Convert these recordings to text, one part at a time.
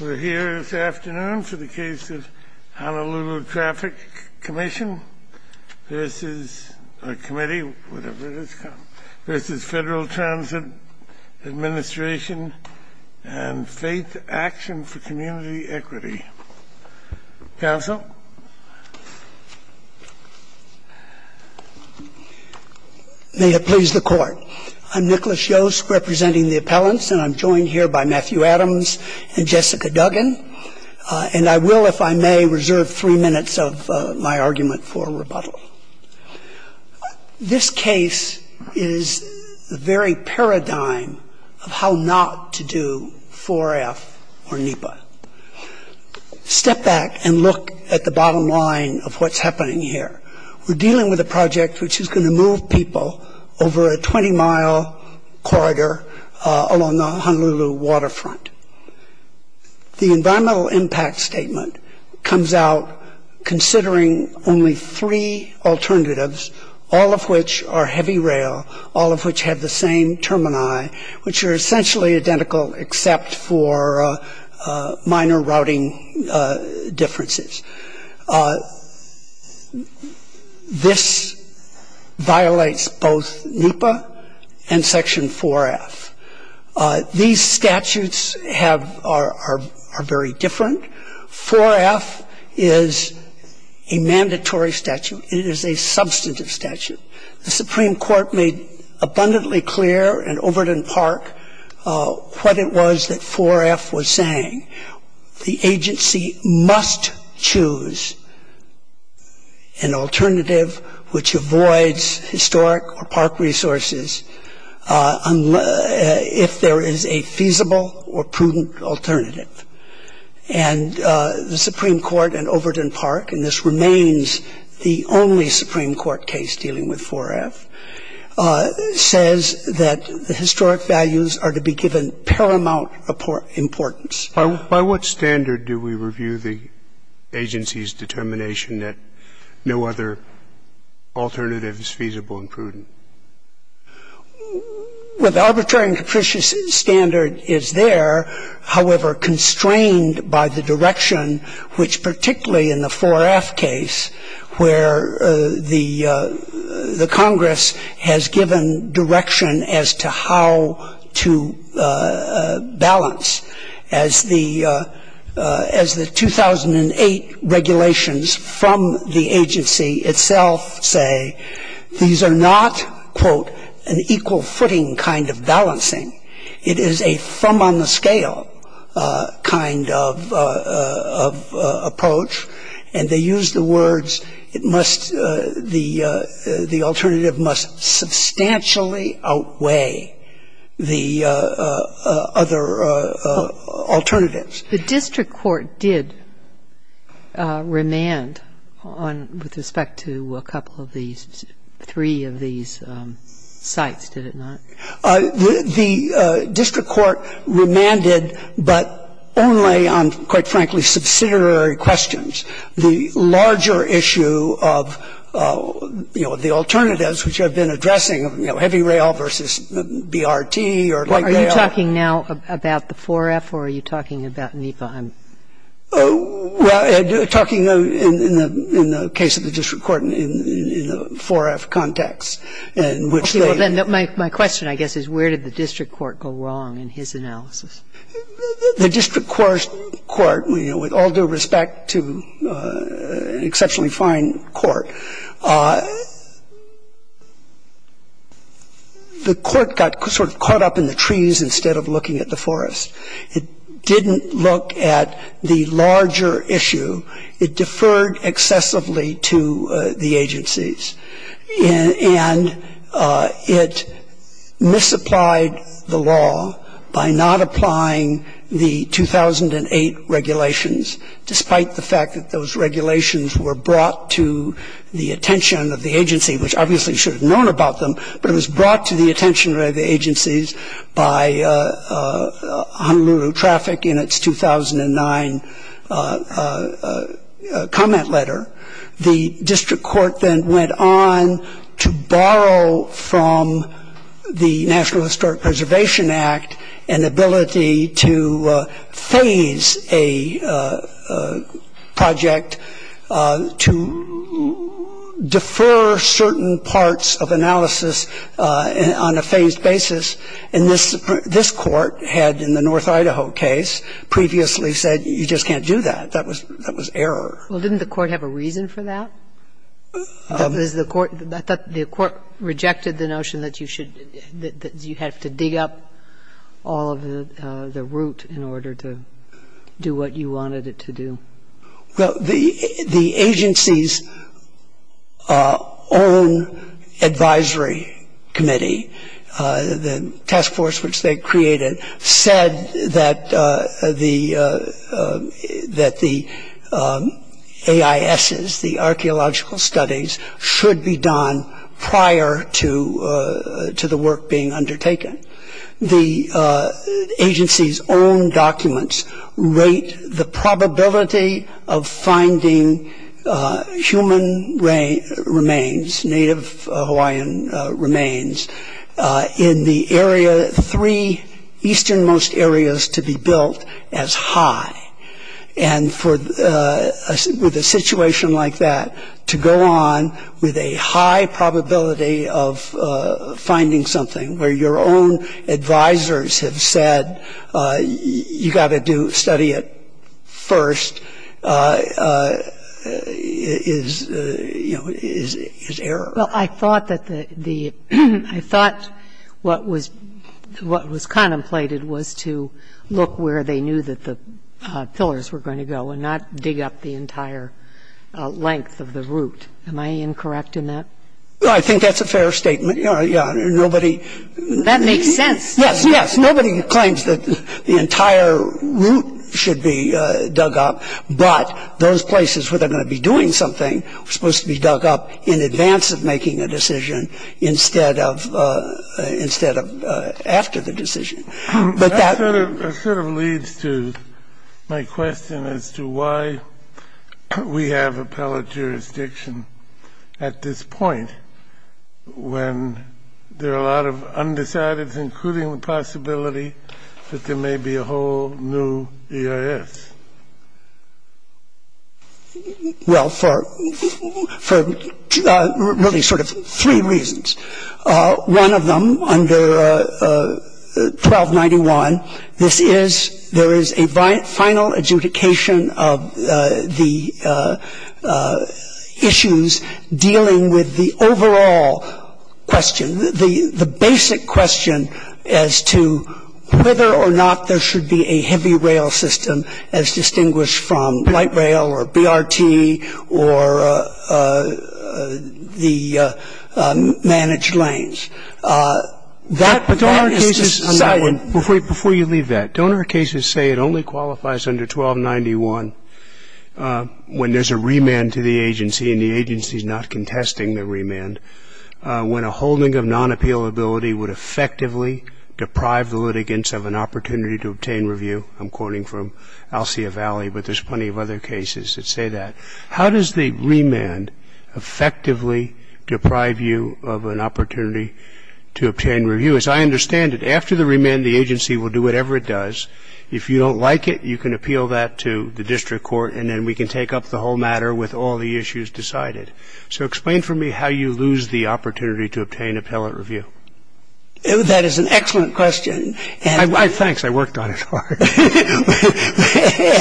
We're here this afternoon for the case of Honolulutraffic Commission v. Federal Transit Administration and Faith Action for Community Equity. Counsel. May it please the Court. I'm Nicholas Yost representing the appellants, and I'm joined here by Matthew Adams and Jessica Duggan. And I will, if I may, reserve three minutes of my argument for rebuttal. This case is the very paradigm of how not to do 4F or NEPA. Step back and look at the bottom line of what's happening here. We're dealing with a project which is going to move people over a 20-mile corridor along the Honolulu waterfront. The environmental impact statement comes out considering only three alternatives, all of which are heavy rail, all of which have the same termini, which are essentially identical except for minor routing differences. This violates both NEPA and Section 4F. These statutes are very different. 4F is a mandatory statute. It is a substantive statute. The Supreme Court made abundantly clear in Overton Park what it was that 4F was saying. The agency must choose an alternative which avoids historic or park resources if there is a feasible or prudent alternative. And the Supreme Court in Overton Park, and this remains the only Supreme Court case dealing with 4F, says that the historic values are to be given paramount importance. By what standard do we review the agency's determination that no other alternative is feasible and prudent? Well, the arbitrary and capricious standard is there, however, constrained by the direction which particularly in the 4F case where the Congress has given direction as to how to balance, as the 2008 regulations from the agency itself say, these are not, quote, an equal-footing kind of balancing. It is a from-on-the-scale kind of approach. And they use the words it must the alternative must substantially outweigh the other alternatives. The district court did remand on, with respect to a couple of these, three of these sites, did it not? The district court remanded, but only on, quite frankly, subsidiary questions. The larger issue of, you know, the alternatives which have been addressing, I think they are. Are you talking now about the 4F or are you talking about NEPA? Well, I'm talking in the case of the district court in the 4F context in which they My question, I guess, is where did the district court go wrong in his analysis? The district court, you know, with all due respect to an exceptionally fine court, the court got sort of caught up in the trees instead of looking at the forest. It didn't look at the larger issue. It deferred excessively to the agencies. And it misapplied the law by not applying the 2008 regulations, despite the fact that those regulations were brought to the attention of the agency, which obviously should have known about them. But it was brought to the attention of the agencies by Honolulu traffic in its 2009 comment letter. The district court then went on to borrow from the National Historic Preservation Act an ability to phase a project to defer certain parts of analysis on a phased basis. And this court had, in the North Idaho case, previously said you just can't do that. That was error. Well, didn't the court have a reason for that? I thought the court rejected the notion that you should – that you have to dig up all of the root in order to do what you wanted it to do. Well, the agency's own advisory committee, the task force which they created, said that the AISs, the archaeological studies, should be done prior to the work being undertaken. The agency's own documents rate the probability of finding human remains, native Hawaiian remains, in the area – three easternmost areas to be built as high. And with a situation like that, to go on with a high probability of finding something where your own advisors have said you've got to study it first is, you know, is error. Well, I thought that the – I thought what was contemplated was to look where they knew that the pillars were going to go and not dig up the entire length of the root. Am I incorrect in that? I think that's a fair statement. Yeah. Nobody – That makes sense. Yes, yes. Nobody claims that the entire root should be dug up, but those places where they're going to be doing something are supposed to be dug up in advance of making a decision instead of after the decision. But that – That sort of leads to my question as to why we have appellate jurisdiction at this point when there are a lot of undecideds, including the possibility that there may be a whole new EIS. Well, for really sort of three reasons. One of them, under 1291, this is – there is a final adjudication of the issue dealing with the overall question, the basic question as to whether or not there should be a heavy rail system as distinguished from light rail or BRT or the managed lanes. That is decided – But don't our cases – before you leave that, don't our cases say it only qualifies under 1291 when there's a remand to the agency and the agency is not contesting the remand, when a holding of non-appealability would effectively deprive the litigants of an opportunity to obtain review? I'm quoting from Alsia Valley, but there's plenty of other cases that say that. How does the remand effectively deprive you of an opportunity to obtain review? As I understand it, after the remand, the agency will do whatever it does. If you don't like it, you can appeal that to the district court, and then we can take up the whole matter with all the issues decided. So explain for me how you lose the opportunity to obtain appellate review. That is an excellent question. Thanks. I worked on it hard.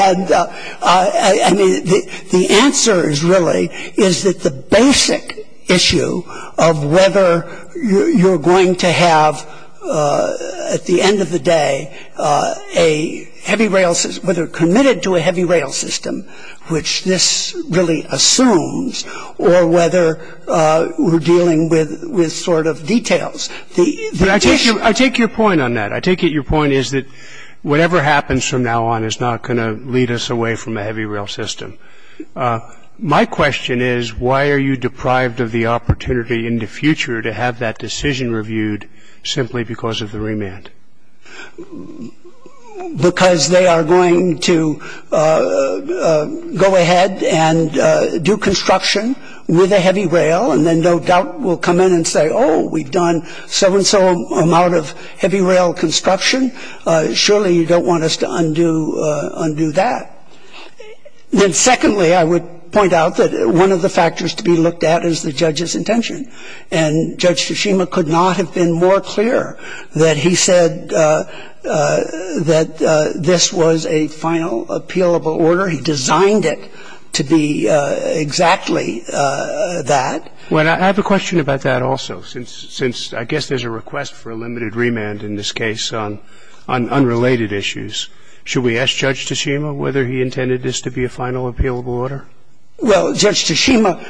And, I mean, the answer is really is that the basic issue of whether you're going to have, at the end of the day, a heavy rail – whether committed to a heavy rail system, which this really assumes, or whether we're dealing with sort of details. I take your point on that. I take it your point is that whatever happens from now on is not going to lead us away from a heavy rail system. My question is why are you deprived of the opportunity in the future to have that decision reviewed simply because of the remand? Because they are going to go ahead and do construction with a heavy rail, and then no doubt we'll come in and say, oh, we've done so-and-so amount of heavy rail construction. Surely you don't want us to undo that. Then, secondly, I would point out that one of the factors to be looked at is the judge's intention. And Judge Toshima could not have been more clear that he said that this was a final appealable order. He designed it to be exactly that. Well, I have a question about that also, since I guess there's a request for a limited remand in this case on unrelated issues. Should we ask Judge Toshima whether he intended this to be a final appealable order? Well, Judge Toshima,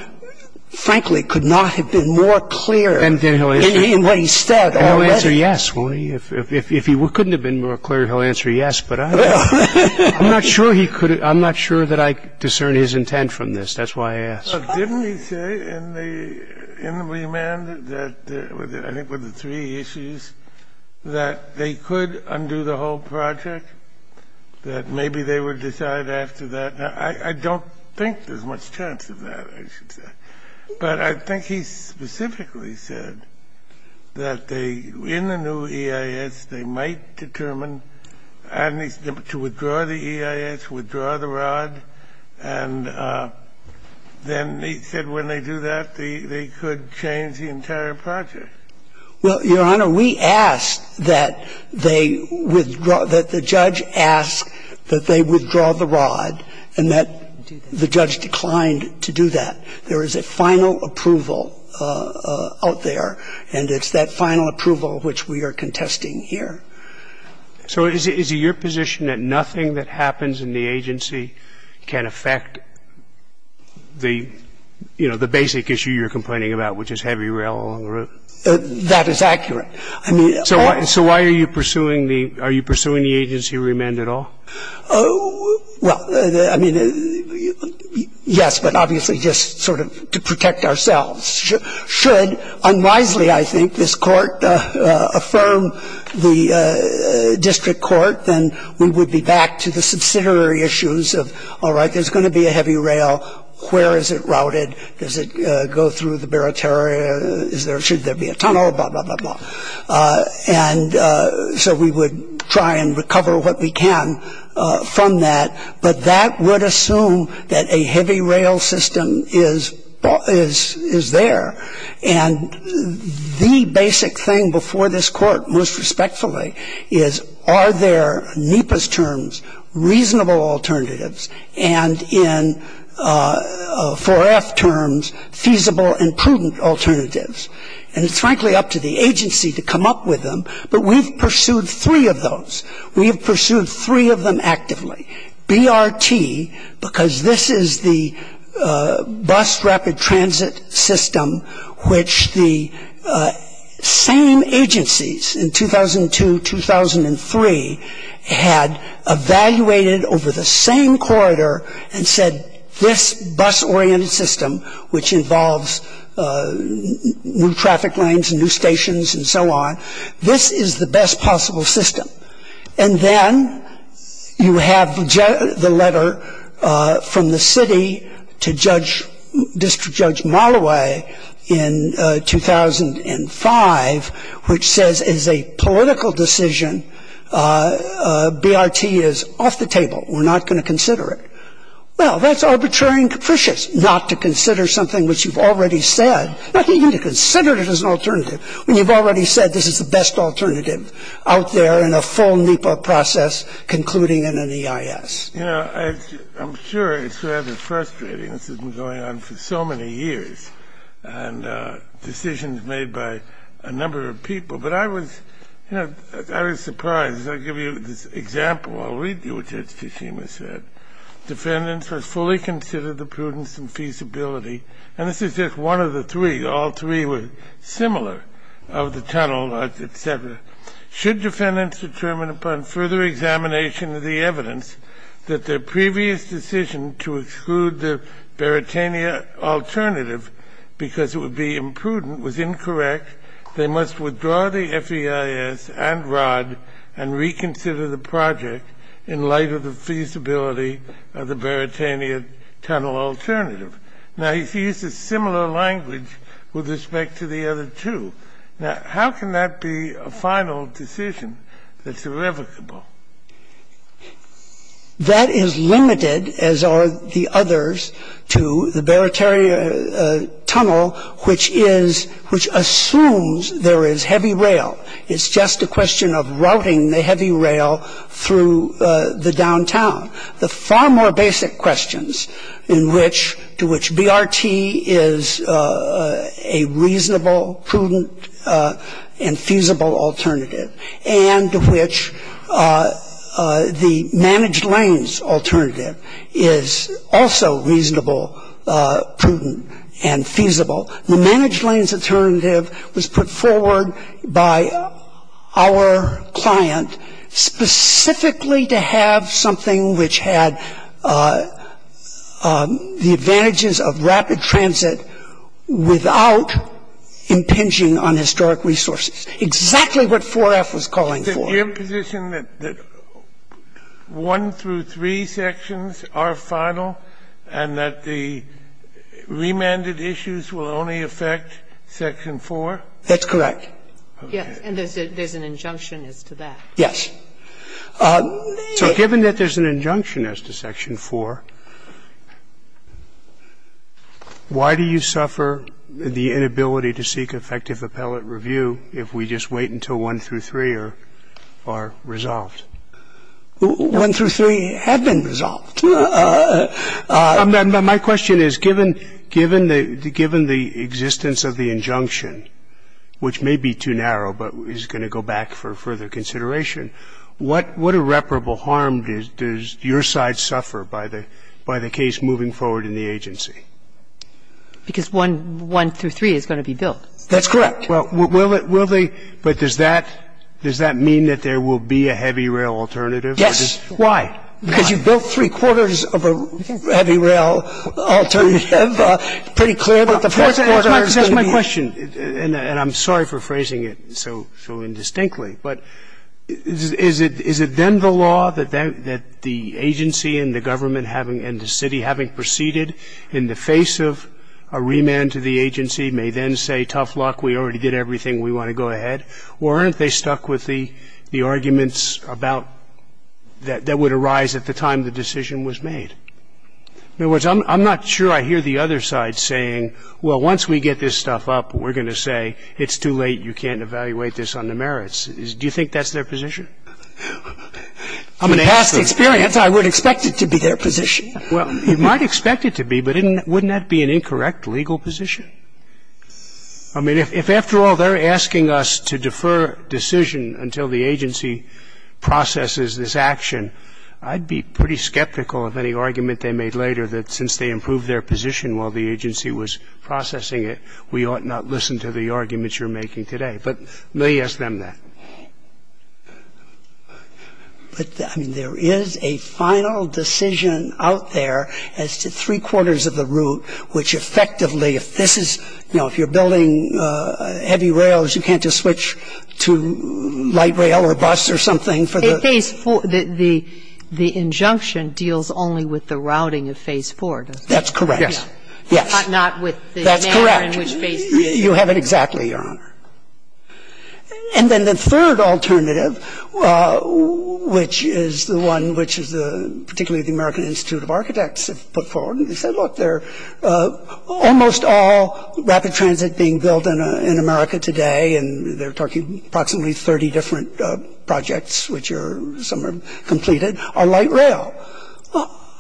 frankly, could not have been more clear in what he said already. And he'll answer yes. Well, if he couldn't have been more clear, he'll answer yes. But I'm not sure he could have — I'm not sure that I discern his intent from this. That's why I asked. Didn't he say in the remand that — I think were the three issues — that they could undo the whole project, that maybe they would decide after that? I don't think there's much chance of that, I should say. But I think he specifically said that they — in the new EIS, they might determine to withdraw the EIS, withdraw the rod. And then he said when they do that, they could change the entire project. Well, Your Honor, we asked that they withdraw — that the judge ask that they withdraw the rod, and that the judge declined to do that. There is a final approval out there, and it's that final approval which we are contesting here. So is it your position that nothing that happens in the agency can affect the, you know, the basic issue you're complaining about, which is heavy rail along the route? That is accurate. I mean — So why are you pursuing the — are you pursuing the agency remand at all? Well, I mean, yes, but obviously just sort of to protect ourselves. Should unwisely, I think, this Court affirm the district court, then we would be back to the subsidiary issues of, all right, there's going to be a heavy rail. Where is it routed? Does it go through the Barataria? Should there be a tunnel? Blah, blah, blah, blah. And so we would try and recover what we can from that. But that would assume that a heavy rail system is there. And the basic thing before this Court, most respectfully, is are there, in NEPA's terms, reasonable alternatives, and in 4F terms, feasible and prudent alternatives? And it's frankly up to the agency to come up with them. But we've pursued three of those. We have pursued three of them actively. BRT, because this is the bus rapid transit system which the same agencies in 2002, 2003 had evaluated over the same corridor and said, this bus-oriented system, which involves new traffic lanes and new stations and so on, this is the best possible system. And then you have the letter from the city to District Judge Molloway in 2005, which says as a political decision, BRT is off the table. We're not going to consider it. Well, that's arbitrary and capricious not to consider something which you've already said, not even to consider it as an alternative when you've already said this is the best alternative out there in a full NEPA process concluding in an EIS. You know, I'm sure it's rather frustrating. This has been going on for so many years. And decisions made by a number of people. But I was, you know, I was surprised. I'll give you this example. I'll read you what Judge Tsushima said. Defendants were fully considered the prudence and feasibility. And this is just one of the three. All three were similar of the tunnel, et cetera. Should defendants determine upon further examination of the evidence that their previous decision to exclude the Baratania alternative because it would be imprudent was incorrect, they must withdraw the FEIS and ROD and reconsider the project in light of the feasibility of the Baratania tunnel alternative. Now, he used a similar language with respect to the other two. Now, how can that be a final decision that's irrevocable? That is limited, as are the others, to the Baratania tunnel, which assumes there is heavy rail. It's just a question of routing the heavy rail through the downtown. The far more basic questions to which BRT is a reasonable, prudent, and feasible alternative and to which the managed lanes alternative is also reasonable, prudent, and feasible. The managed lanes alternative was put forward by our client specifically to have something which had the advantages of rapid transit without impinging on historic resources. Exactly what 4F was calling for. Scalia. Is it your position that one through three sections are final and that the remanded issues will only affect section 4? That's correct. Yes. And there's an injunction as to that. Yes. So given that there's an injunction as to section 4, why do you suffer the inability to seek effective appellate review if we just wait until one through three are resolved? One through three have been resolved. My question is, given the existence of the injunction, which may be too narrow but is going to go back for further consideration, what irreparable harm does your side suffer by the case moving forward in the agency? Because one through three is going to be built. That's correct. Well, will they? But does that mean that there will be a heavy rail alternative? Yes. Why? Because you've built three-quarters of a heavy rail alternative. Pretty clear that the first quarter is going to be. That's my question, and I'm sorry for phrasing it so indistinctly. But is it then the law that the agency and the government and the city having proceeded in the face of a remand to the agency may then say, tough luck, we already did everything, we want to go ahead? Or aren't they stuck with the arguments about that would arise at the time the decision was made? In other words, I'm not sure I hear the other side saying, well, once we get this stuff up, we're going to say it's too late, you can't evaluate this on the merits. Do you think that's their position? In past experience, I would expect it to be their position. Well, you might expect it to be, but wouldn't that be an incorrect legal position? I mean, if after all they're asking us to defer decision until the agency processes this action, I'd be pretty skeptical of any argument they made later that since they improved their position while the agency was processing it, we ought not listen to the arguments you're making today. But may ask them that. But, I mean, there is a final decision out there as to three-quarters of the route which effectively, if this is, you know, if you're building heavy rails, you can't just switch to light rail or bus or something for the ‑‑ In Phase 4, the injunction deals only with the routing of Phase 4, doesn't it? That's correct. Yes. Yes. Not with the manner in which Phase 3. That's correct. You have it exactly, Your Honor. And then the third alternative, which is the one which is particularly the American Institute of Architects have put forward, and they said, look, they're almost all rapid transit being built in America today, and they're talking approximately 30 different projects, which some are completed, are light rail.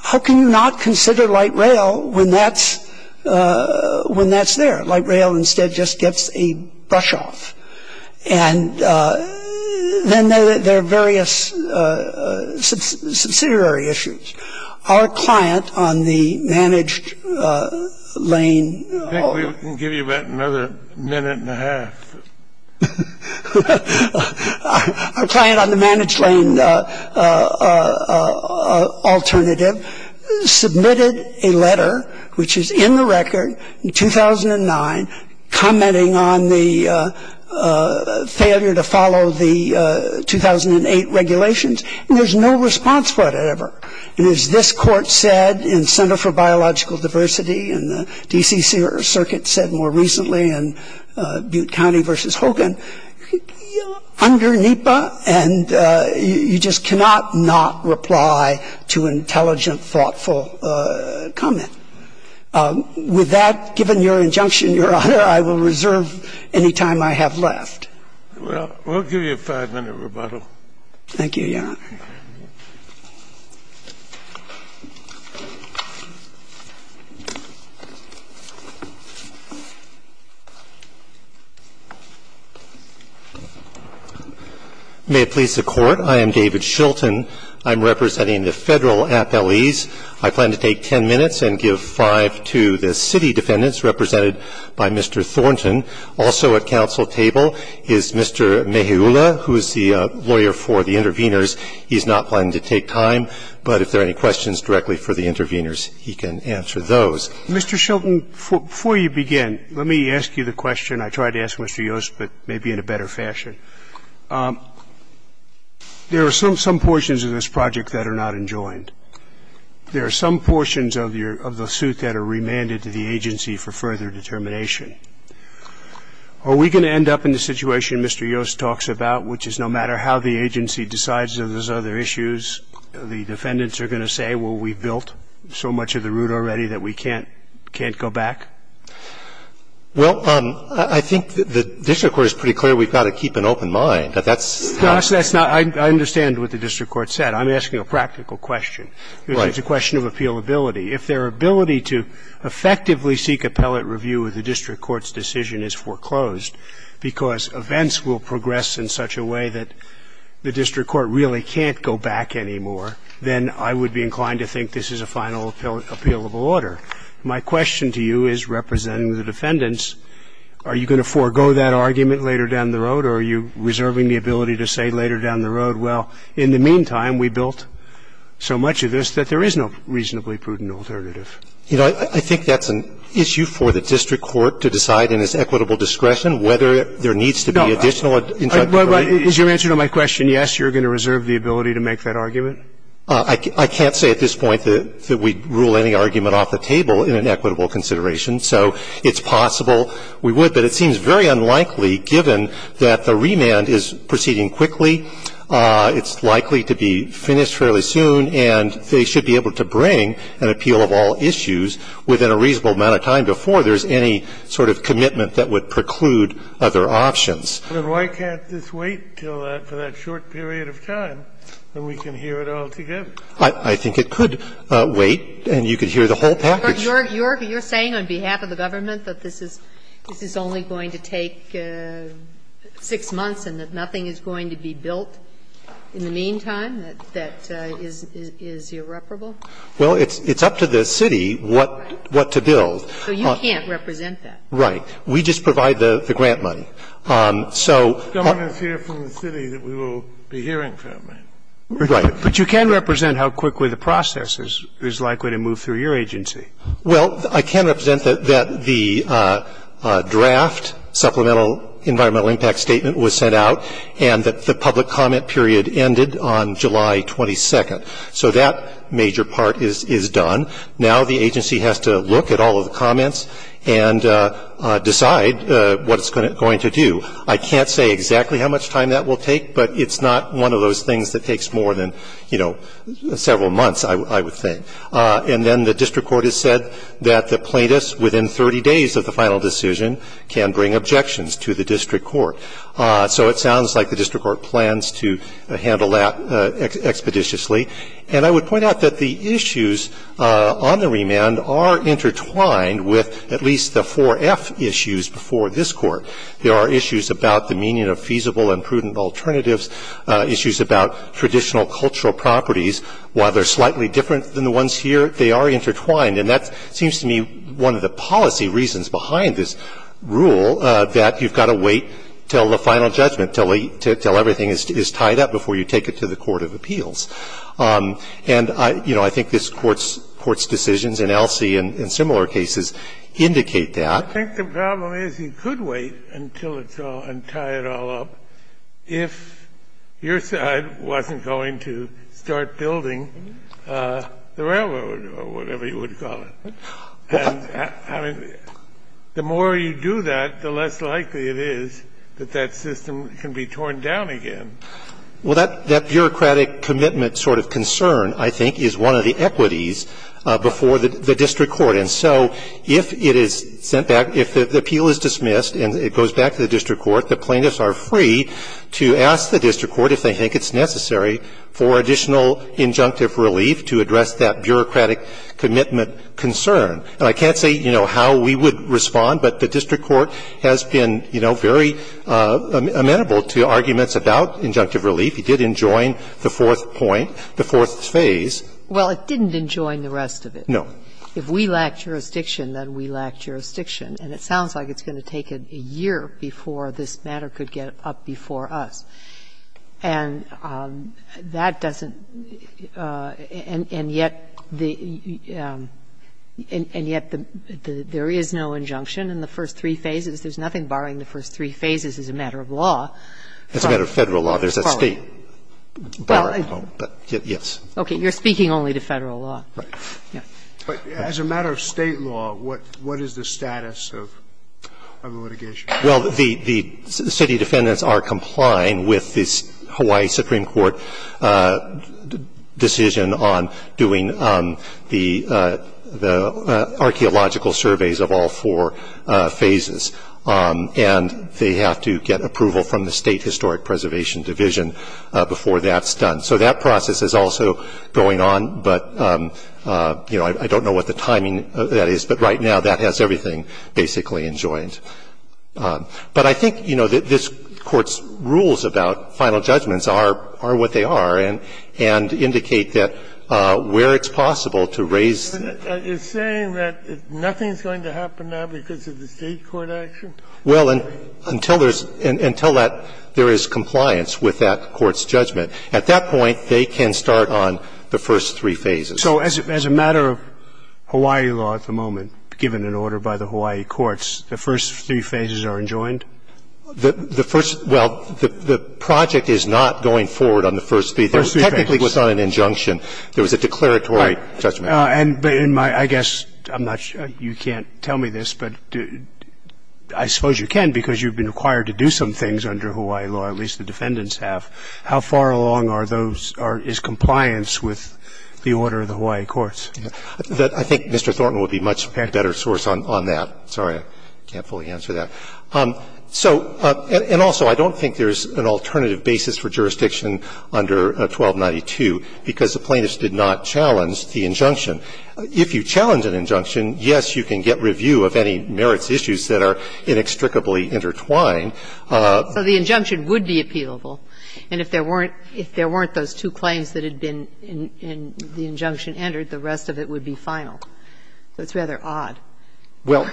How can you not consider light rail when that's there? Light rail, instead, just gets a brush off. And then there are various subsidiary issues. Our client on the managed lane ‑‑ I think we can give you about another minute and a half. Our client on the managed lane alternative submitted a letter which is in the record in 2009 commenting on the failure to follow the 2008 regulations, and there's no response for it ever. And as this court said in Center for Biological Diversity and the D.C. Circuit said more recently in Butte County v. Hogan, under NEPA, and you just cannot not reply to intelligent, thoughtful comment. With that, given your injunction, Your Honor, I will reserve any time I have left. Well, we'll give you a five-minute rebuttal. Thank you, Your Honor. May it please the Court. I am David Shilton. I'm representing the Federal appellees. I plan to take ten minutes and give five to the city defendants represented by Mr. Thornton. Also at council table is Mr. Meheula, who is the lawyer for the intervenors. He's not planning to take time, but if there are any questions directly for the intervenors, he can answer those. Mr. Shilton, before you begin, let me ask you the question. I tried to ask Mr. Yost, but maybe in a better fashion. There are some portions of this project that are not enjoined. There are some portions of the suit that are remanded to the agency for further determination. Are we going to end up in the situation Mr. Yost talks about, which is no matter how the agency decides on those other issues, the defendants are going to say, well, we've built so much of the route already that we can't go back? Well, I think the district court is pretty clear we've got to keep an open mind. But that's how it is. I understand what the district court said. I'm asking a practical question. Right. It's a question of appealability. If their ability to effectively seek appellate review of the district court's decision is foreclosed because events will progress in such a way that the district court really can't go back anymore, then I would be inclined to think this is a final appealable order. My question to you is, representing the defendants, are you going to forego that argument later down the road, or are you reserving the ability to say later down the road, well, in the meantime, we built so much of this that there is no reasonably prudent alternative? You know, I think that's an issue for the district court to decide in its equitable discretion whether there needs to be additional. Is your answer to my question yes, you're going to reserve the ability to make that argument? I can't say at this point that we'd rule any argument off the table in an equitable consideration, so it's possible we would, but it seems very unlikely, given that the remand is proceeding quickly, it's likely to be finished fairly soon, and they should be able to bring an appeal of all issues within a reasonable amount of time before there's any sort of commitment that would preclude other options. And why can't this wait until that, for that short period of time, and we can hear it all together? I think it could wait, and you could hear the whole package. You're saying on behalf of the government that this is only going to take 6 months and that nothing is going to be built in the meantime? That that is irreparable? Well, it's up to the city what to build. So you can't represent that? We just provide the grant money. The government is here from the city that we will be hearing from. Right. But you can represent how quickly the process is likely to move through your agency. Well, I can represent that the draft supplemental environmental impact statement was sent out and that the public comment period ended on July 22nd. So that major part is done. Now the agency has to look at all of the comments and decide what it's going to do. I can't say exactly how much time that will take, but it's not one of those things that takes more than, you know, several months, I would think. And then the district court has said that the plaintiffs within 30 days of the final decision can bring objections to the district court. So it sounds like the district court plans to handle that expeditiously. And I would point out that the issues on the remand are intertwined with at least the 4F issues before this Court. There are issues about the meaning of feasible and prudent alternatives, issues about traditional cultural properties. While they're slightly different than the ones here, they are intertwined. And that seems to me one of the policy reasons behind this rule, that you've got to wait until the final judgment, until everything is tied up before you take it to the court of appeals. And, you know, I think this Court's decisions in Elsie and in similar cases indicate that. I think the problem is you could wait until it's all entirely up if your side wasn't going to start building the railroad or whatever you would call it. And, I mean, the more you do that, the less likely it is that that system can be torn down again. Well, that bureaucratic commitment sort of concern, I think, is one of the equities before the district court. And so if it is sent back, if the appeal is dismissed and it goes back to the district court, the plaintiffs are free to ask the district court if they think it's necessary for additional injunctive relief to address that bureaucratic commitment concern. And I can't say, you know, how we would respond, but the district court has been, you know, very amenable to arguments about injunctive relief. It did enjoin the fourth point, the fourth phase. Well, it didn't enjoin the rest of it. No. If we lack jurisdiction, then we lack jurisdiction. And it sounds like it's going to take a year before this matter could get up before us. And that doesn't – and yet the – and yet there is no injunction in the first three phases. There's nothing barring the first three phases as a matter of law. It's a matter of Federal law. There's a State bar, but yes. Okay. You're speaking only to Federal law. Right. But as a matter of State law, what is the status of the litigation? Well, the city defendants are complying with this Hawaii Supreme Court decision on doing the archaeological surveys of all four phases. And they have to get approval from the State Historic Preservation Division before that's done. So that process is also going on, but, you know, I don't know what the timing of that is, but right now that has everything basically enjoined. But I think, you know, this Court's rules about final judgments are what they are, and indicate that where it's possible to raise the – You're saying that nothing's going to happen now because of the State court action? Well, until there's – until that – there is compliance with that court's judgment. At that point, they can start on the first three phases. So as a matter of Hawaii law at the moment, given an order by the Hawaii courts, the first three phases are enjoined? The first – well, the project is not going forward on the first three. The first three phases. Technically, it was not an injunction. There was a declaratory judgment. Right. But in my – I guess I'm not – you can't tell me this, but I suppose you can because you've been required to do some things under Hawaii law, at least the defendants have. How far along are those – is compliance with the order of the Hawaii courts? I think Mr. Thornton would be a much better source on that. Sorry, I can't fully answer that. So – and also, I don't think there's an alternative basis for jurisdiction under 1292 because the plaintiffs did not challenge the injunction. If you challenge an injunction, yes, you can get review of any merits issues that are inextricably intertwined. So the injunction would be appealable, and if there weren't – if there weren't those two claims that had been in the injunction entered, the rest of it would be final. So it's rather odd. Well,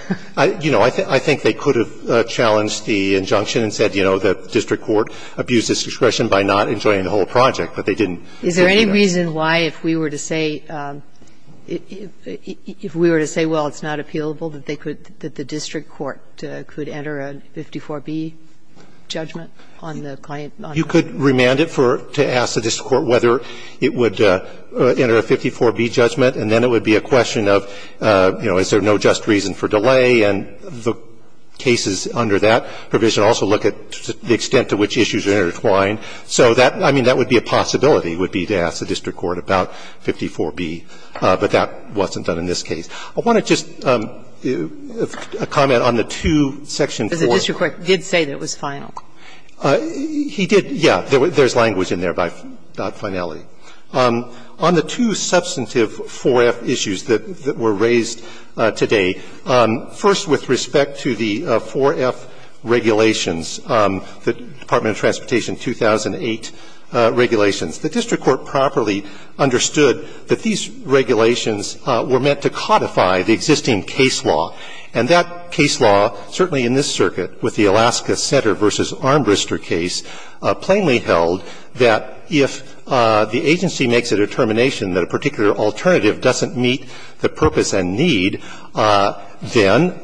you know, I think they could have challenged the injunction and said, you know, the district court abused its discretion by not enjoining the whole project, but they didn't. Is there any reason why if we were to say – if we were to say, well, it's not appealable, that they could – that the district court could enter a 54B judgment on the claim? You could remand it for – to ask the district court whether it would enter a 54B judgment, and then it would be a question of, you know, is there no just reason for delay, and the cases under that provision also look at the extent to which issues are intertwined. So that – I mean, that would be a possibility, would be to ask the district court about 54B, but that wasn't done in this case. I want to just comment on the two section 4. Because the district court did say that it was final. He did, yes. There's language in there about finality. On the two substantive 4F issues that were raised today, first with respect to the 4F regulations, the Department of Transportation 2008 regulations, the district court properly understood that these regulations were meant to codify the existing case law. And that case law, certainly in this circuit with the Alaska Center v. Armbrister case, plainly held that if the agency makes a determination that a particular alternative doesn't meet the purpose and need, then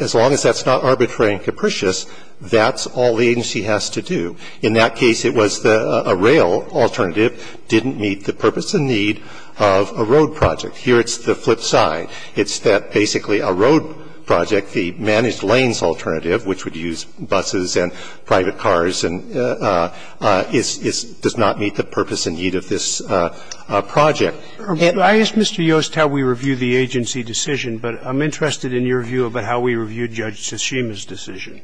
as long as that's not arbitrary and capricious, that's all the agency has to do. In that case, it was a rail alternative didn't meet the purpose and need of a road project. Here it's the flip side. It's that basically a road project, the managed lanes alternative, which would It's not a private project, which is why we have to use buses and private cars and is not meet the purpose and need of this project. And I asked Mr. Yost how we reviewed the agency decision, but I'm interested in your view about how we reviewed Judge Tashima's decision.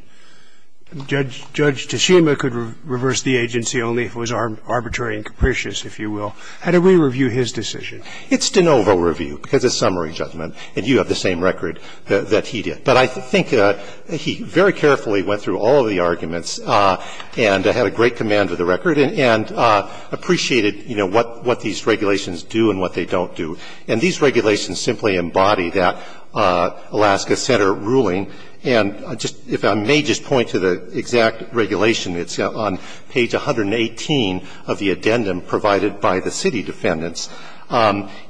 Judge Tashima could reverse the agency only if it was arbitrary and capricious, if you will. How do we review his decision? It's de novo review because it's summary judgment and you have the same record that he did. But I think he very carefully went through all of the arguments and had a great command of the record and appreciated, you know, what these regulations do and what they don't do. And these regulations simply embody that Alaska Center ruling. And if I may just point to the exact regulation, it's on page 118 of the addendum provided by the city defendants.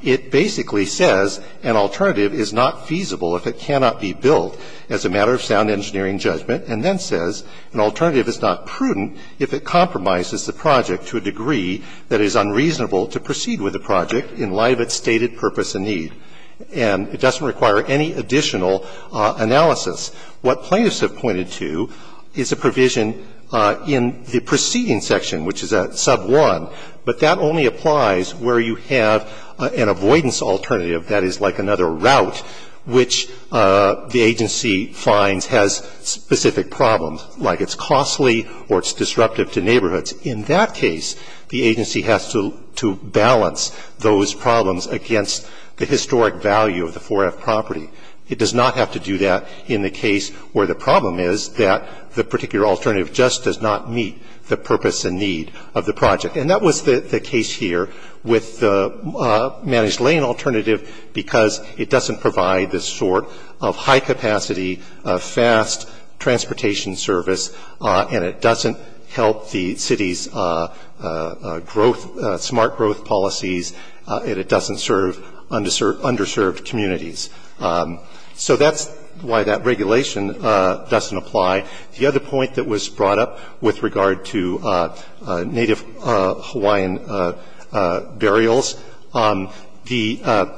It basically says an alternative is not feasible if it cannot be built as a matter of sound engineering judgment, and then says an alternative is not prudent if it compromises the project to a degree that it is unreasonable to proceed with the project in light of its stated purpose and need. And it doesn't require any additional analysis. What plaintiffs have pointed to is a provision in the preceding section, which is at sub 1, but that only applies where you have an avoidance alternative, that is like another route, which the agency finds has specific problems, like it's costly or it's disruptive to neighborhoods. In that case, the agency has to balance those problems against the historic value of the 4F property. It does not have to do that in the case where the problem is that the particular alternative just does not meet the purpose and need of the project. And that was the case here with the managed lane alternative because it doesn't provide this sort of high-capacity, fast transportation service, and it doesn't help the city's growth, smart growth policies, and it doesn't serve underserved communities. So that's why that regulation doesn't apply. The other point that was brought up with regard to Native Hawaiian burials, the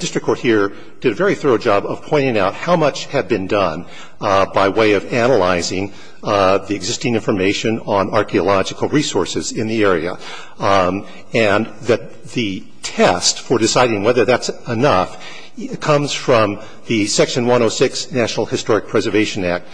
district court here did a very thorough job of pointing out how much had been done by way of analyzing the existing information on archeological resources in the area. And that the test for deciding whether that's enough comes from the Section 106 National Historic Preservation Act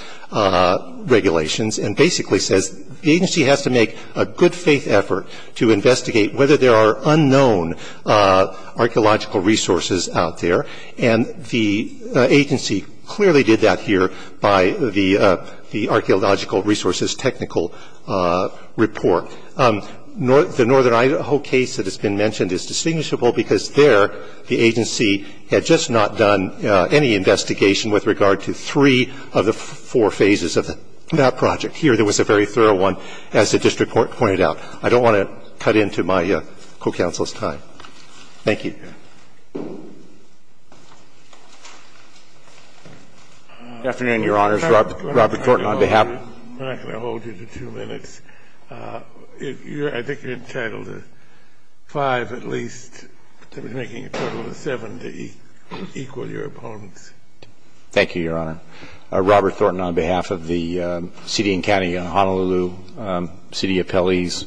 regulations, and basically says the agency has to make a good-faith effort to investigate whether there are unknown archeological resources out there, and the agency clearly did that here by the archeological resources technical report. The Northern Idaho case that has been mentioned is distinguishable because there the agency had just not done any investigation with regard to three of the four phases of that project. Here there was a very thorough one, as the district court pointed out. I don't want to cut into my co-counsel's time. Thank you. Good afternoon, Your Honors. Robert Thornton, on behalf of the city and county of Honolulu, city appellees,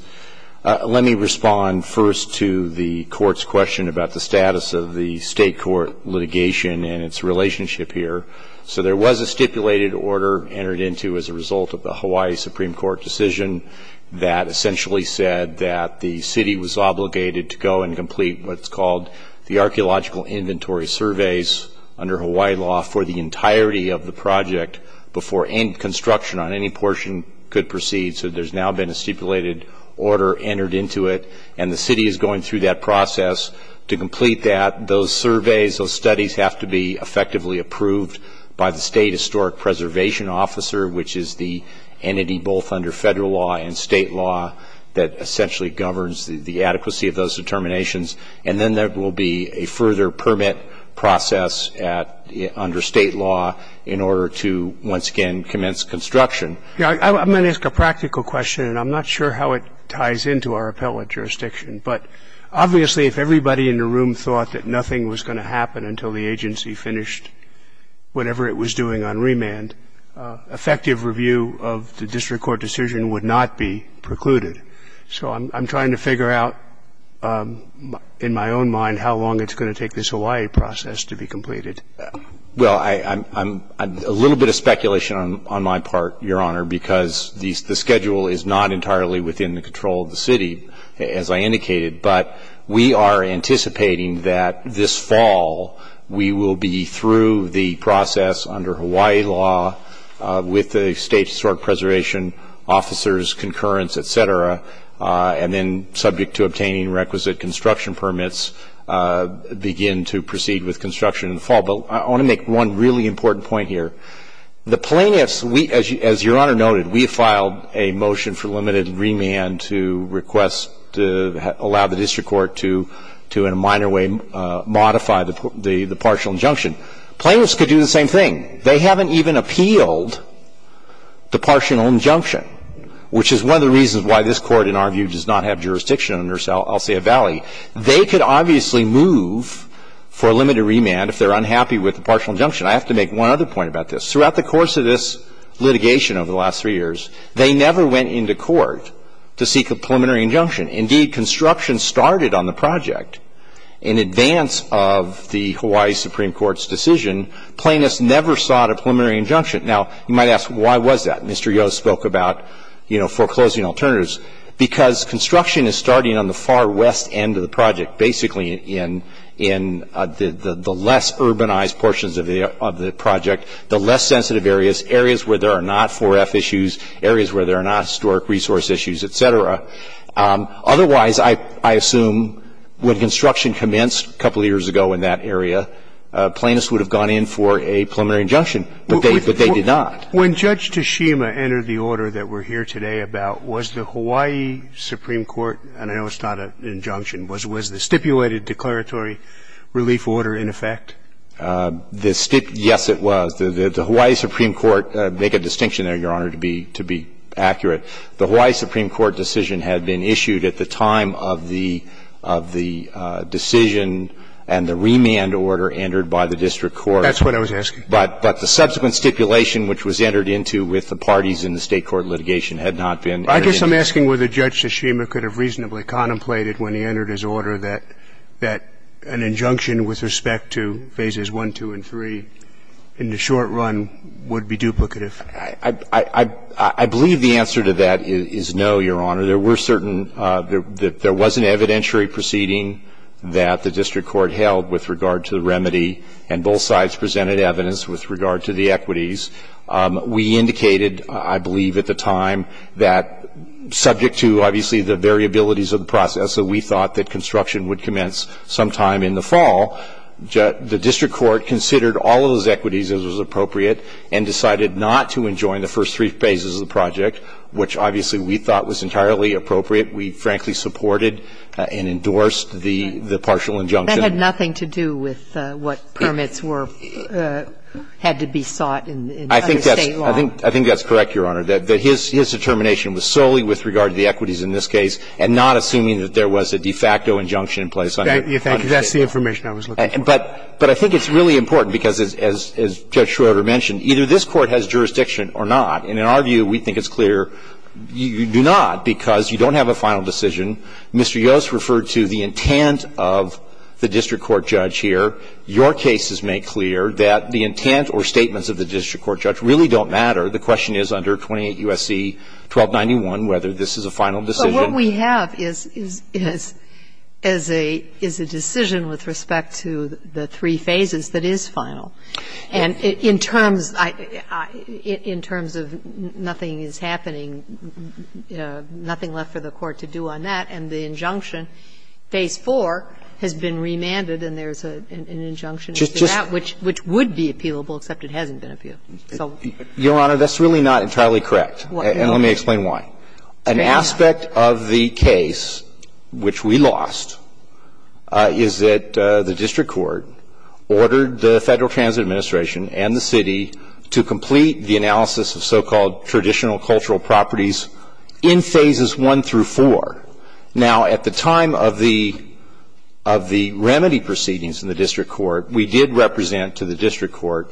let me respond first to the court's question about the status of the state court litigation and its relationship here. So there was a stipulated order entered into as a result of the Hawaii Supreme Court decision that essentially said that the city was obligated to go and complete what's called the archeological inventory surveys under Hawaii law for the entirety of the project before any construction on any portion could proceed. So there's now been a stipulated order entered into it, and the city is going through that process to complete that. Those surveys, those studies have to be effectively approved by the state historic preservation officer, which is the entity both under federal law and state law that essentially governs the adequacy of those determinations. And then there will be a further permit process under state law in order to, once again, commence construction. I'm going to ask a practical question, and I'm not sure how it ties into our appellate jurisdiction, but obviously if everybody in the room thought that nothing was going to happen until the agency finished whatever it was doing on remand, effective review of the district court decision would not be precluded. So I'm trying to figure out, in my own mind, how long it's going to take this Hawaii process to be completed. Well, a little bit of speculation on my part, Your Honor, because the schedule is not entirely within the control of the city, as I indicated. But we are anticipating that this fall we will be through the process under Hawaii law with the state historic preservation officers, concurrence, et cetera, and then subject to obtaining requisite construction permits begin to proceed with construction in the fall. But I want to make one really important point here. The plaintiffs, as Your Honor noted, we filed a motion for limited remand to request to allow the district court to, in a minor way, modify the partial injunction. Plaintiffs could do the same thing. They haven't even appealed the partial injunction, which is one of the reasons why this Court, in our view, does not have jurisdiction under Elsia Valley. They could obviously move for a limited remand if they're unhappy with the partial injunction. I have to make one other point about this. Throughout the course of this litigation over the last three years, they never went into court to seek a preliminary injunction. Indeed, construction started on the project in advance of the Hawaii Supreme Court's decision. Plaintiffs never sought a preliminary injunction. Now, you might ask, why was that? Mr. Yo spoke about, you know, foreclosing alternatives. Because construction is starting on the far west end of the project, basically in the less urbanized portions of the project, the less sensitive areas, areas where there are not 4F issues, areas where there are not historic resource issues, et cetera. Otherwise, I assume when construction commenced a couple years ago in that area, plaintiffs would have gone in for a preliminary injunction, but they did not. When Judge Tashima entered the order that we're here today about, was the Hawaii Supreme Court, and I know it's not an injunction, was the stipulated declaratory relief order in effect? Yes, it was. The Hawaii Supreme Court, make a distinction there, Your Honor, to be accurate. The Hawaii Supreme Court decision had been issued at the time of the decision and the remand order entered by the district court. That's what I was asking. But the subsequent stipulation, which was entered into with the parties in the state court litigation, had not been entered into. I guess I'm asking whether Judge Tashima could have reasonably contemplated when he entered his order that an injunction with respect to Phases I, II, and III in the short run would be duplicative. I believe the answer to that is no, Your Honor. There were certain – there was an evidentiary proceeding that the district court held with regard to the remedy, and both sides presented evidence with regard to the equities. We indicated, I believe at the time, that subject to, obviously, the variabilities of the process that we thought that construction would commence sometime in the fall, the district court considered all of those equities as was appropriate and decided not to enjoin the first three phases of the project, which obviously we thought was entirely appropriate. We frankly supported and endorsed the partial injunction. That had nothing to do with what permits were – had to be sought under State law. I think that's correct, Your Honor, that his determination was solely with regard to the equities in this case and not assuming that there was a de facto injunction in place under State law. That's the information I was looking for. But I think it's really important, because as Judge Schroeder mentioned, either this Court has jurisdiction or not. And in our view, we think it's clear you do not, because you don't have a final decision. Mr. Yost referred to the intent of the district court judge here. Your cases make clear that the intent or statements of the district court judge really don't matter. The question is under 28 U.S.C. 1291 whether this is a final decision. But what we have is a decision with respect to the three phases that is final. And in terms of nothing is happening, nothing left for the Court to do on that, and the injunction, phase 4, has been remanded, and there's an injunction in that which would be appealable, except it hasn't been appealed. Your Honor, that's really not entirely correct, and let me explain why. An aspect of the case which we lost is that the district court ordered the Federal Transit Administration and the city to complete the analysis of so-called traditional cultural properties in phases 1 through 4. Now, at the time of the remedy proceedings in the district court, we did represent to the district court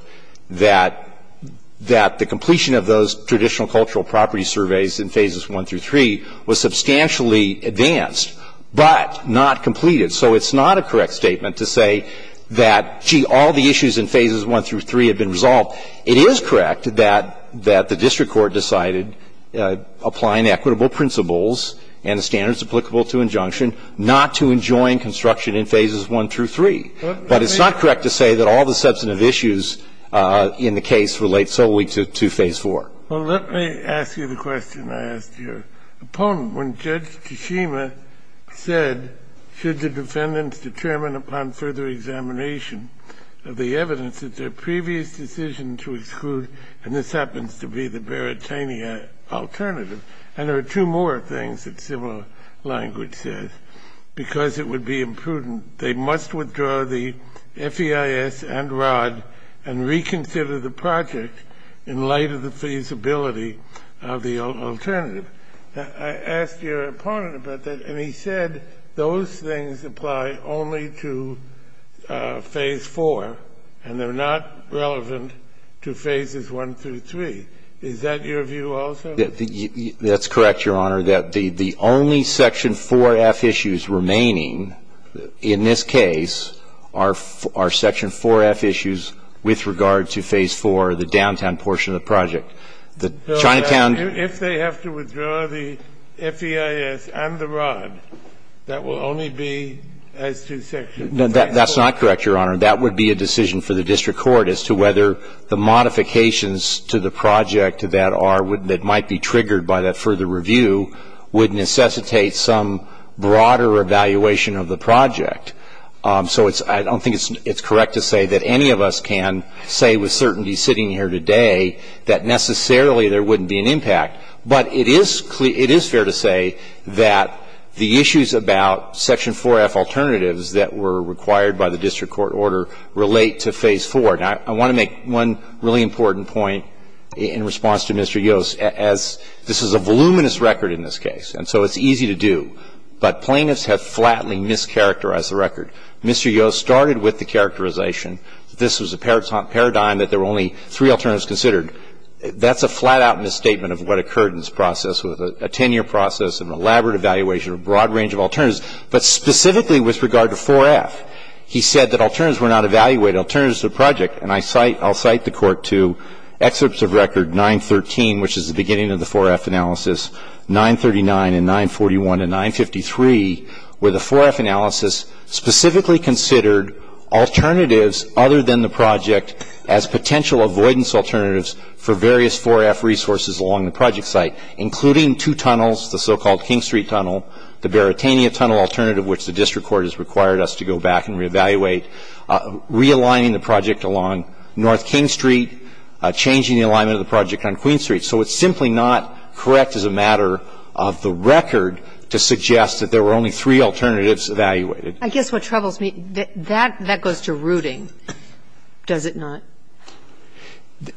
that the completion of those traditional cultural property surveys in phases 1 through 3 was substantially advanced, but not completed. So it's not a correct statement to say that, gee, all the issues in phases 1 through 3 have been resolved. It is correct that the district court decided, applying equitable principles and the standards applicable to injunction, not to enjoin construction in phases 1 through 3. But it's not correct to say that all the substantive issues in the case relate solely to phase 4. Well, let me ask you the question I asked your opponent. When Judge Tshishima said, should the defendants determine upon further examination of the evidence that their previous decision to exclude, and this happens to be the Baratania alternative, and there are two more things that similar language says, because it would be imprudent, they must withdraw the FEIS and R.O.D. and reconsider the project in light of the feasibility of the alternative. I asked your opponent about that, and he said those things apply only to phase 4, and they're not relevant to phases 1 through 3. Is that your view also? That's correct, Your Honor, that the only section 4F issues remaining in this case are section 4F issues with regard to phase 4, the downtown portion of the project. The Chinatown If they have to withdraw the FEIS and the R.O.D., that will only be as to section 4. That's not correct, Your Honor. That would be a decision for the district court as to whether the modifications to the project that might be triggered by that further review would necessitate some broader evaluation of the project. So I don't think it's correct to say that any of us can say with certainty sitting here today that necessarily there wouldn't be an impact. But it is fair to say that the issues about section 4F alternatives that were required by the district court order relate to phase 4. Now, I want to make one really important point in response to Mr. Yost. As this is a voluminous record in this case, and so it's easy to do, but plaintiffs have flatly mischaracterized the record. Mr. Yost started with the characterization that this was a paradigm that there were only three alternatives considered. That's a flat-out misstatement of what occurred in this process with a 10-year process of an elaborate evaluation of a broad range of alternatives. But specifically with regard to 4F, he said that alternatives were not evaluated, alternatives to the project. And I cite the court to excerpts of record 913, which is the beginning of the 4F analysis, 939 and 941 and 953, where the 4F analysis specifically considered alternatives other than the project as potential avoidance alternatives for various 4F resources along the project site, including two tunnels, the so-called King Street Tunnel, the Baratania Tunnel alternative, which the district court has required us to go back and reevaluate, realigning the project along North King Street, changing the alignment of the project on Queen Street. So it's simply not correct as a matter of the record to suggest that there were only three alternatives evaluated. I guess what troubles me, that goes to rooting, does it not?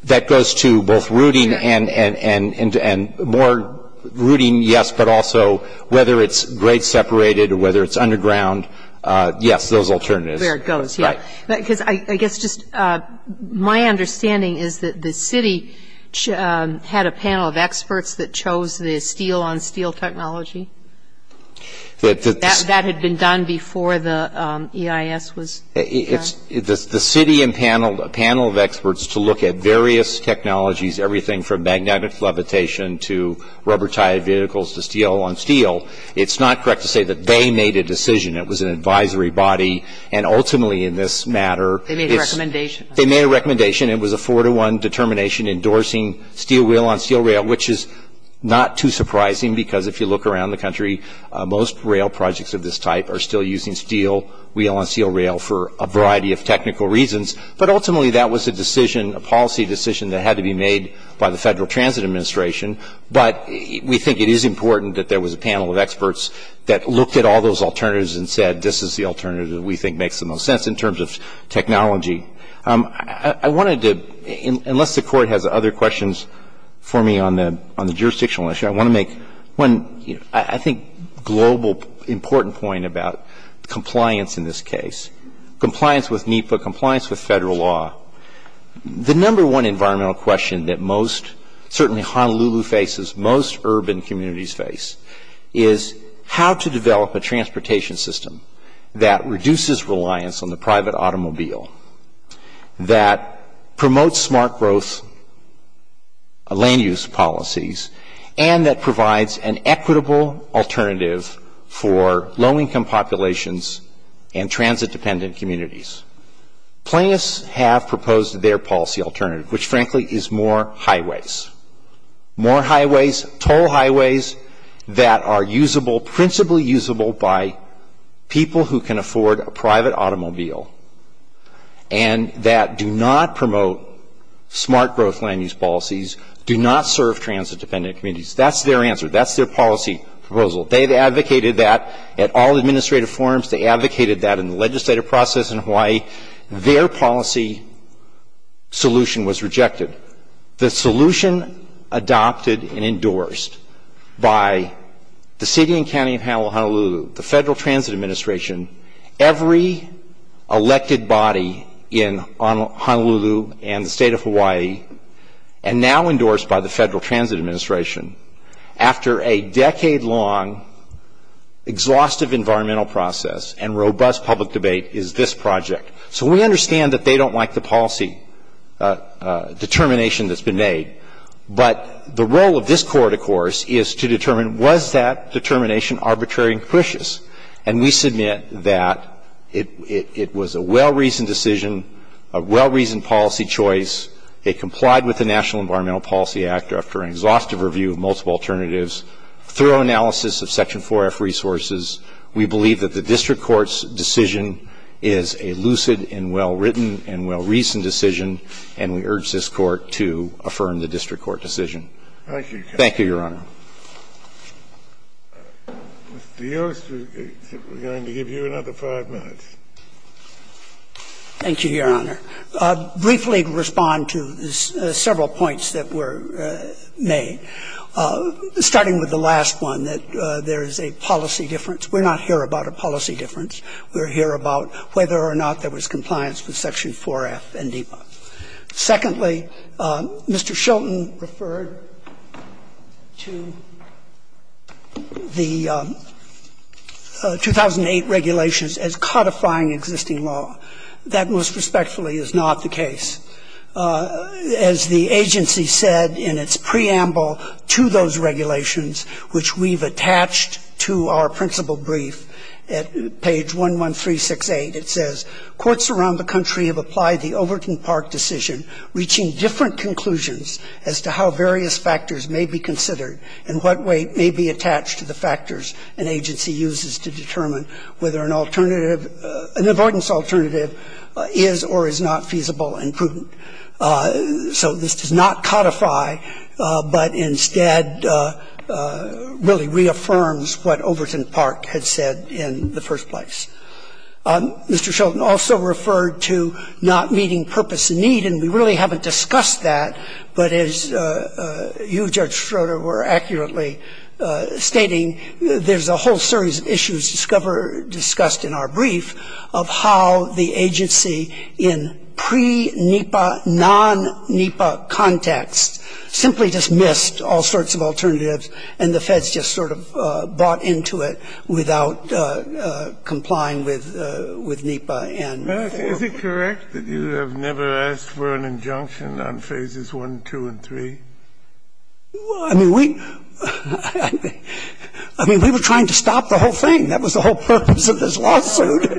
That goes to both rooting and more rooting, yes, but also whether it's grade-separated or whether it's underground, yes, those alternatives. Where it goes, yes. Right. Because I guess just my understanding is that the city had a panel of experts that chose the steel-on-steel technology. That had been done before the EIS was done. The city and panel of experts to look at various technologies, everything from magnetic levitation to rubber-tied vehicles to steel-on-steel, it's not correct to say that they made a decision. It was an advisory body, and ultimately in this matter they made a recommendation. It was a four-to-one determination endorsing steel-wheel-on-steel rail, which is not too surprising because if you look around the country, most rail projects of this type are still using steel-wheel-on-steel rail for a variety of technical reasons. But ultimately that was a decision, a policy decision, that had to be made by the Federal Transit Administration. But we think it is important that there was a panel of experts that looked at all those alternatives and said, this is the alternative we think makes the most sense in terms of technology. I wanted to, unless the Court has other questions for me on the jurisdictional issue, I want to make one, I think, global important point about compliance in this case. Compliance with NEPA, compliance with Federal law. The number one environmental question that most, certainly Honolulu faces, most urban communities face is how to develop a transportation system that reduces reliance on the private automobile, that promotes smart growth land use policies, and that provides an equitable alternative for low-income populations and transit-dependent communities. Plaintiffs have proposed their policy alternative, which frankly is more highways. More highways, toll highways that are usable, principally usable by people who can afford a private automobile and that do not promote smart growth land use policies, do not serve transit-dependent communities. That's their answer. That's their policy proposal. They have advocated that at all administrative forums. They advocated that in the legislative process in Hawaii. Their policy solution was rejected. The solution adopted and endorsed by the City and County of Honolulu, the Federal Transit Administration, every elected body in Honolulu and the State of Hawaii, and now endorsed by the Federal Transit Administration, after a decade-long exhaustive environmental process and robust public debate is this project. So we understand that they don't like the policy determination that's been made. But the role of this Court, of course, is to determine was that determination arbitrary and capricious. And we submit that it was a well-reasoned decision, a well-reasoned policy choice. It complied with the National Environmental Policy Act after an exhaustive review of multiple alternatives, thorough analysis of Section 4F resources. We believe that the district court's decision is a lucid and well-written and well-reasoned decision. And we urge this Court to affirm the district court decision. Thank you. Thank you, Your Honor. Mr. Yost, we're going to give you another five minutes. Thank you, Your Honor. Briefly respond to several points that were made, starting with the last one, that there is a policy difference. We're not here about a policy difference. We're here about whether or not there was compliance with Section 4F and DEPA. Secondly, Mr. Shelton referred to the 2008 regulations as codifying existing law. That most respectfully is not the case. As the agency said in its preamble to those regulations, which we've attached to our principal brief, at page 11368, it says, Courts around the country have applied the Overton Park decision, reaching different conclusions as to how various factors may be considered and what weight may be attached to the factors an agency uses to determine whether an alternative, an avoidance alternative, is or is not feasible and prudent. So this does not codify, but instead really reaffirms what Overton Park had said in the first place. Mr. Shelton also referred to not meeting purpose and need, and we really haven't discussed that. But as you, Judge Schroeder, were accurately stating, there's a whole series of issues discussed in our brief of how the agency in pre-NEPA, non-NEPA context simply dismissed all sorts of alternatives and the Feds just sort of bought into it without complying with NEPA. Kennedy. Is it correct that you have never asked for an injunction on Phases 1, 2, and 3? I mean, we were trying to stop the whole thing. That was the whole purpose of this lawsuit,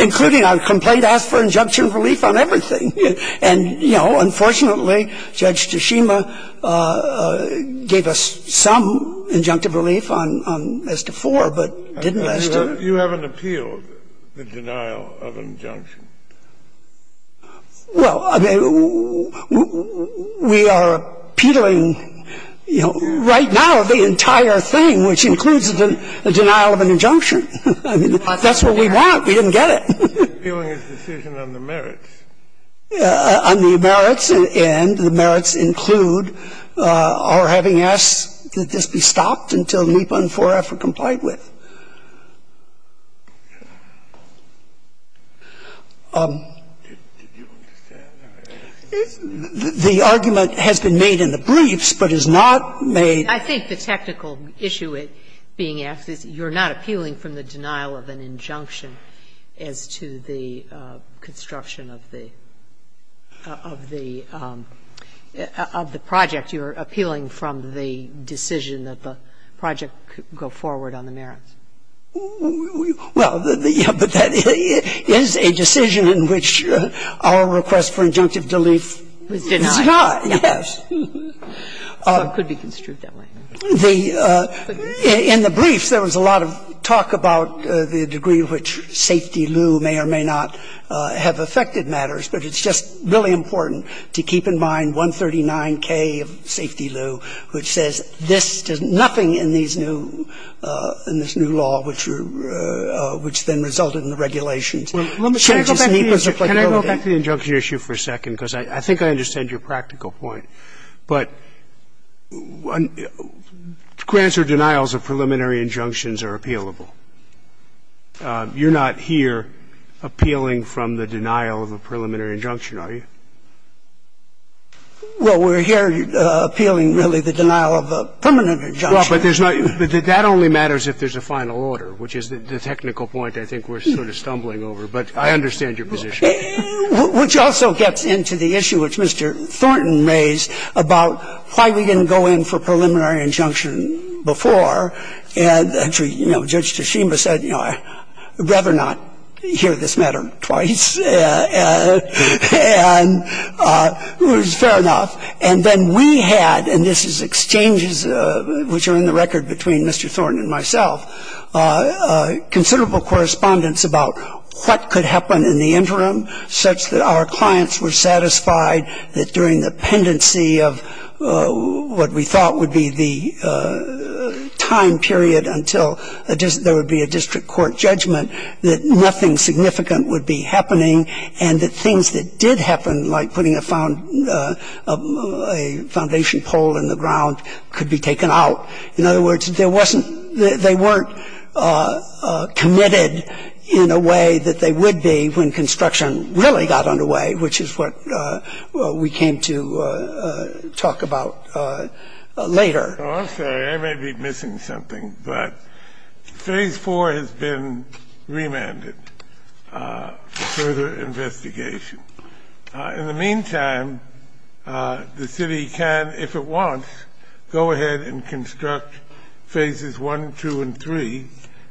including our complaint asked for injunction relief on everything. And, you know, unfortunately, Judge Toshima gave us some injunctive relief on as to 4, but didn't ask to do it. You haven't appealed the denial of injunction. Well, I mean, we are appealing, you know, right now the entire thing, which includes a denial of an injunction. I mean, that's what we want. We didn't get it. Appealing a decision on the merits. On the merits, and the merits include our having asked that this be stopped until NEPA and 4-F are complied with. The argument has been made in the briefs, but is not made in the briefs. And I'm just wondering if you're not appealing from the denial of an injunction as to the construction of the project. You're appealing from the decision that the project go forward on the merits. Well, yes, but that is a decision in which our request for injunctive relief is denied. Is denied. Yes. So it could be construed that way. The – in the briefs, there was a lot of talk about the degree to which safety lieu may or may not have affected matters. But it's just really important to keep in mind 139K of safety lieu, which says this does nothing in these new – in this new law, which then resulted in the regulations. Can I go back to the injunction issue for a second? Because I think I understand your practical point. But grants or denials of preliminary injunctions are appealable. You're not here appealing from the denial of a preliminary injunction, are you? Well, we're here appealing, really, the denial of a permanent injunction. Well, but there's not – that only matters if there's a final order, which is the technical point I think we're sort of stumbling over. But I understand your position. Which also gets into the issue which Mr. Thornton raised about why we didn't go in for preliminary injunction before. And, you know, Judge Toshiba said, you know, I'd rather not hear this matter twice. And it was fair enough. And then we had – and this is exchanges which are in the record between Mr. Thornton and myself – considerable correspondence about what could happen in the interim such that our clients were satisfied that during the pendency of what we thought would be the time period until there would be a district court judgment that nothing significant would be happening and that things that did happen, like putting a foundation pole in the ground, could be taken out. In other words, there wasn't – they weren't committed in a way that they would be when construction really got underway, which is what we came to talk about later. I'm sorry. I may be missing something. But Phase 4 has been remanded for further investigation. In the meantime, the city can, if it wants, go ahead and construct Phases 1, 2, and 3.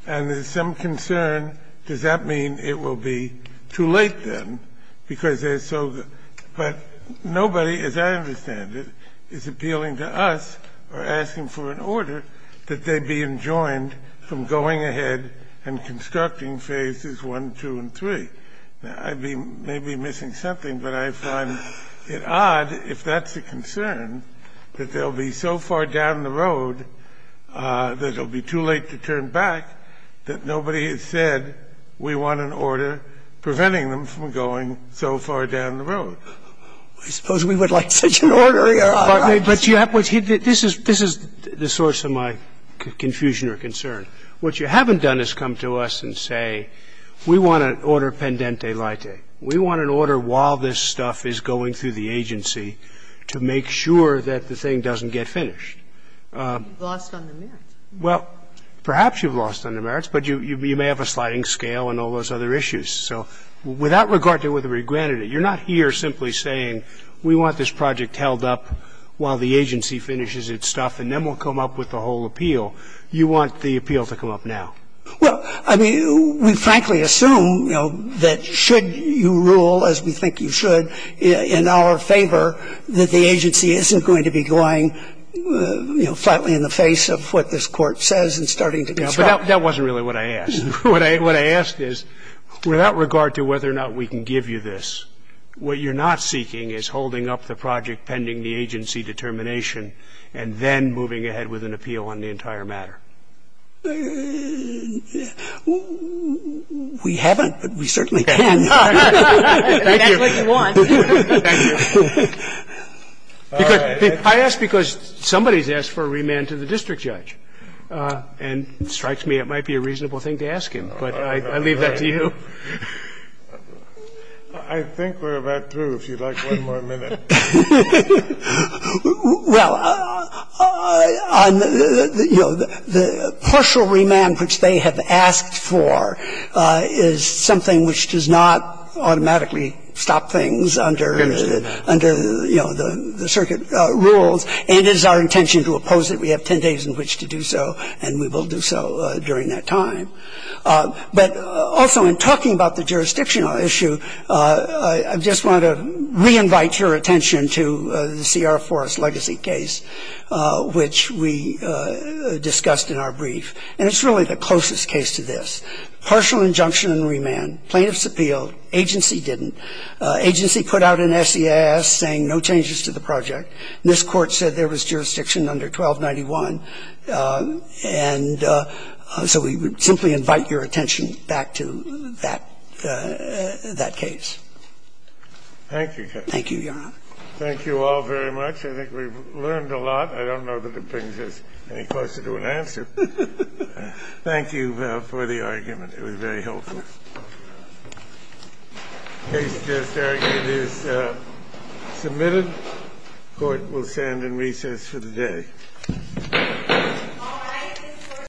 And there's some concern, does that mean it will be too late then, because they're so – but nobody, as I understand it, is appealing to us or asking for an order that they be enjoined from going ahead and constructing Phases 1, 2, and 3. I may be missing something, but I find it odd, if that's a concern, that they'll be so far down the road that it'll be too late to turn back that nobody has said we want an order preventing them from going so far down the road. I suppose we would like such an order, Your Honor. But you have – this is the source of my confusion or concern. What you haven't done is come to us and say we want an order pendente lite. We want an order while this stuff is going through the agency to make sure that the thing doesn't get finished. You've lost on the merits. Well, perhaps you've lost on the merits, but you may have a sliding scale and all those other issues. So without regard to whether we granted it, you're not here simply saying we want this project held up while the agency finishes its stuff and then we'll come up with the whole appeal. You want the appeal to come up now. Well, I mean, we frankly assume, you know, that should you rule, as we think you should, in our favor, that the agency isn't going to be going, you know, flatly in the face of what this Court says and starting to construct. But that wasn't really what I asked. What I asked is, without regard to whether or not we can give you this, what you're not seeking is holding up the project pending the agency determination and then moving ahead with an appeal on the entire matter. We haven't, but we certainly can. Thank you. I asked because somebody's asked for a remand to the district judge. And it strikes me it might be a reasonable thing to ask him, but I leave that to you. I think we're about through, if you'd like one more minute. Well, you know, the partial remand which they have asked for is something which does not automatically stop things under, you know, the circuit rules and is our intention to oppose it. We have 10 days in which to do so, and we will do so during that time. But also in talking about the jurisdictional issue, I just want to re-invite your attention to the Sierra Forest legacy case which we discussed in our brief. And it's really the closest case to this. Partial injunction and remand. Plaintiffs appealed. Agency didn't. Agency put out an SES saying no changes to the project. And this Court said there was jurisdiction under 1291. And so we simply invite your attention back to that case. Thank you. Thank you, Your Honor. Thank you all very much. I think we've learned a lot. I don't know that it brings us any closer to an answer. Thank you for the argument. It was very helpful. The case is submitted. Court will stand in recess for the day.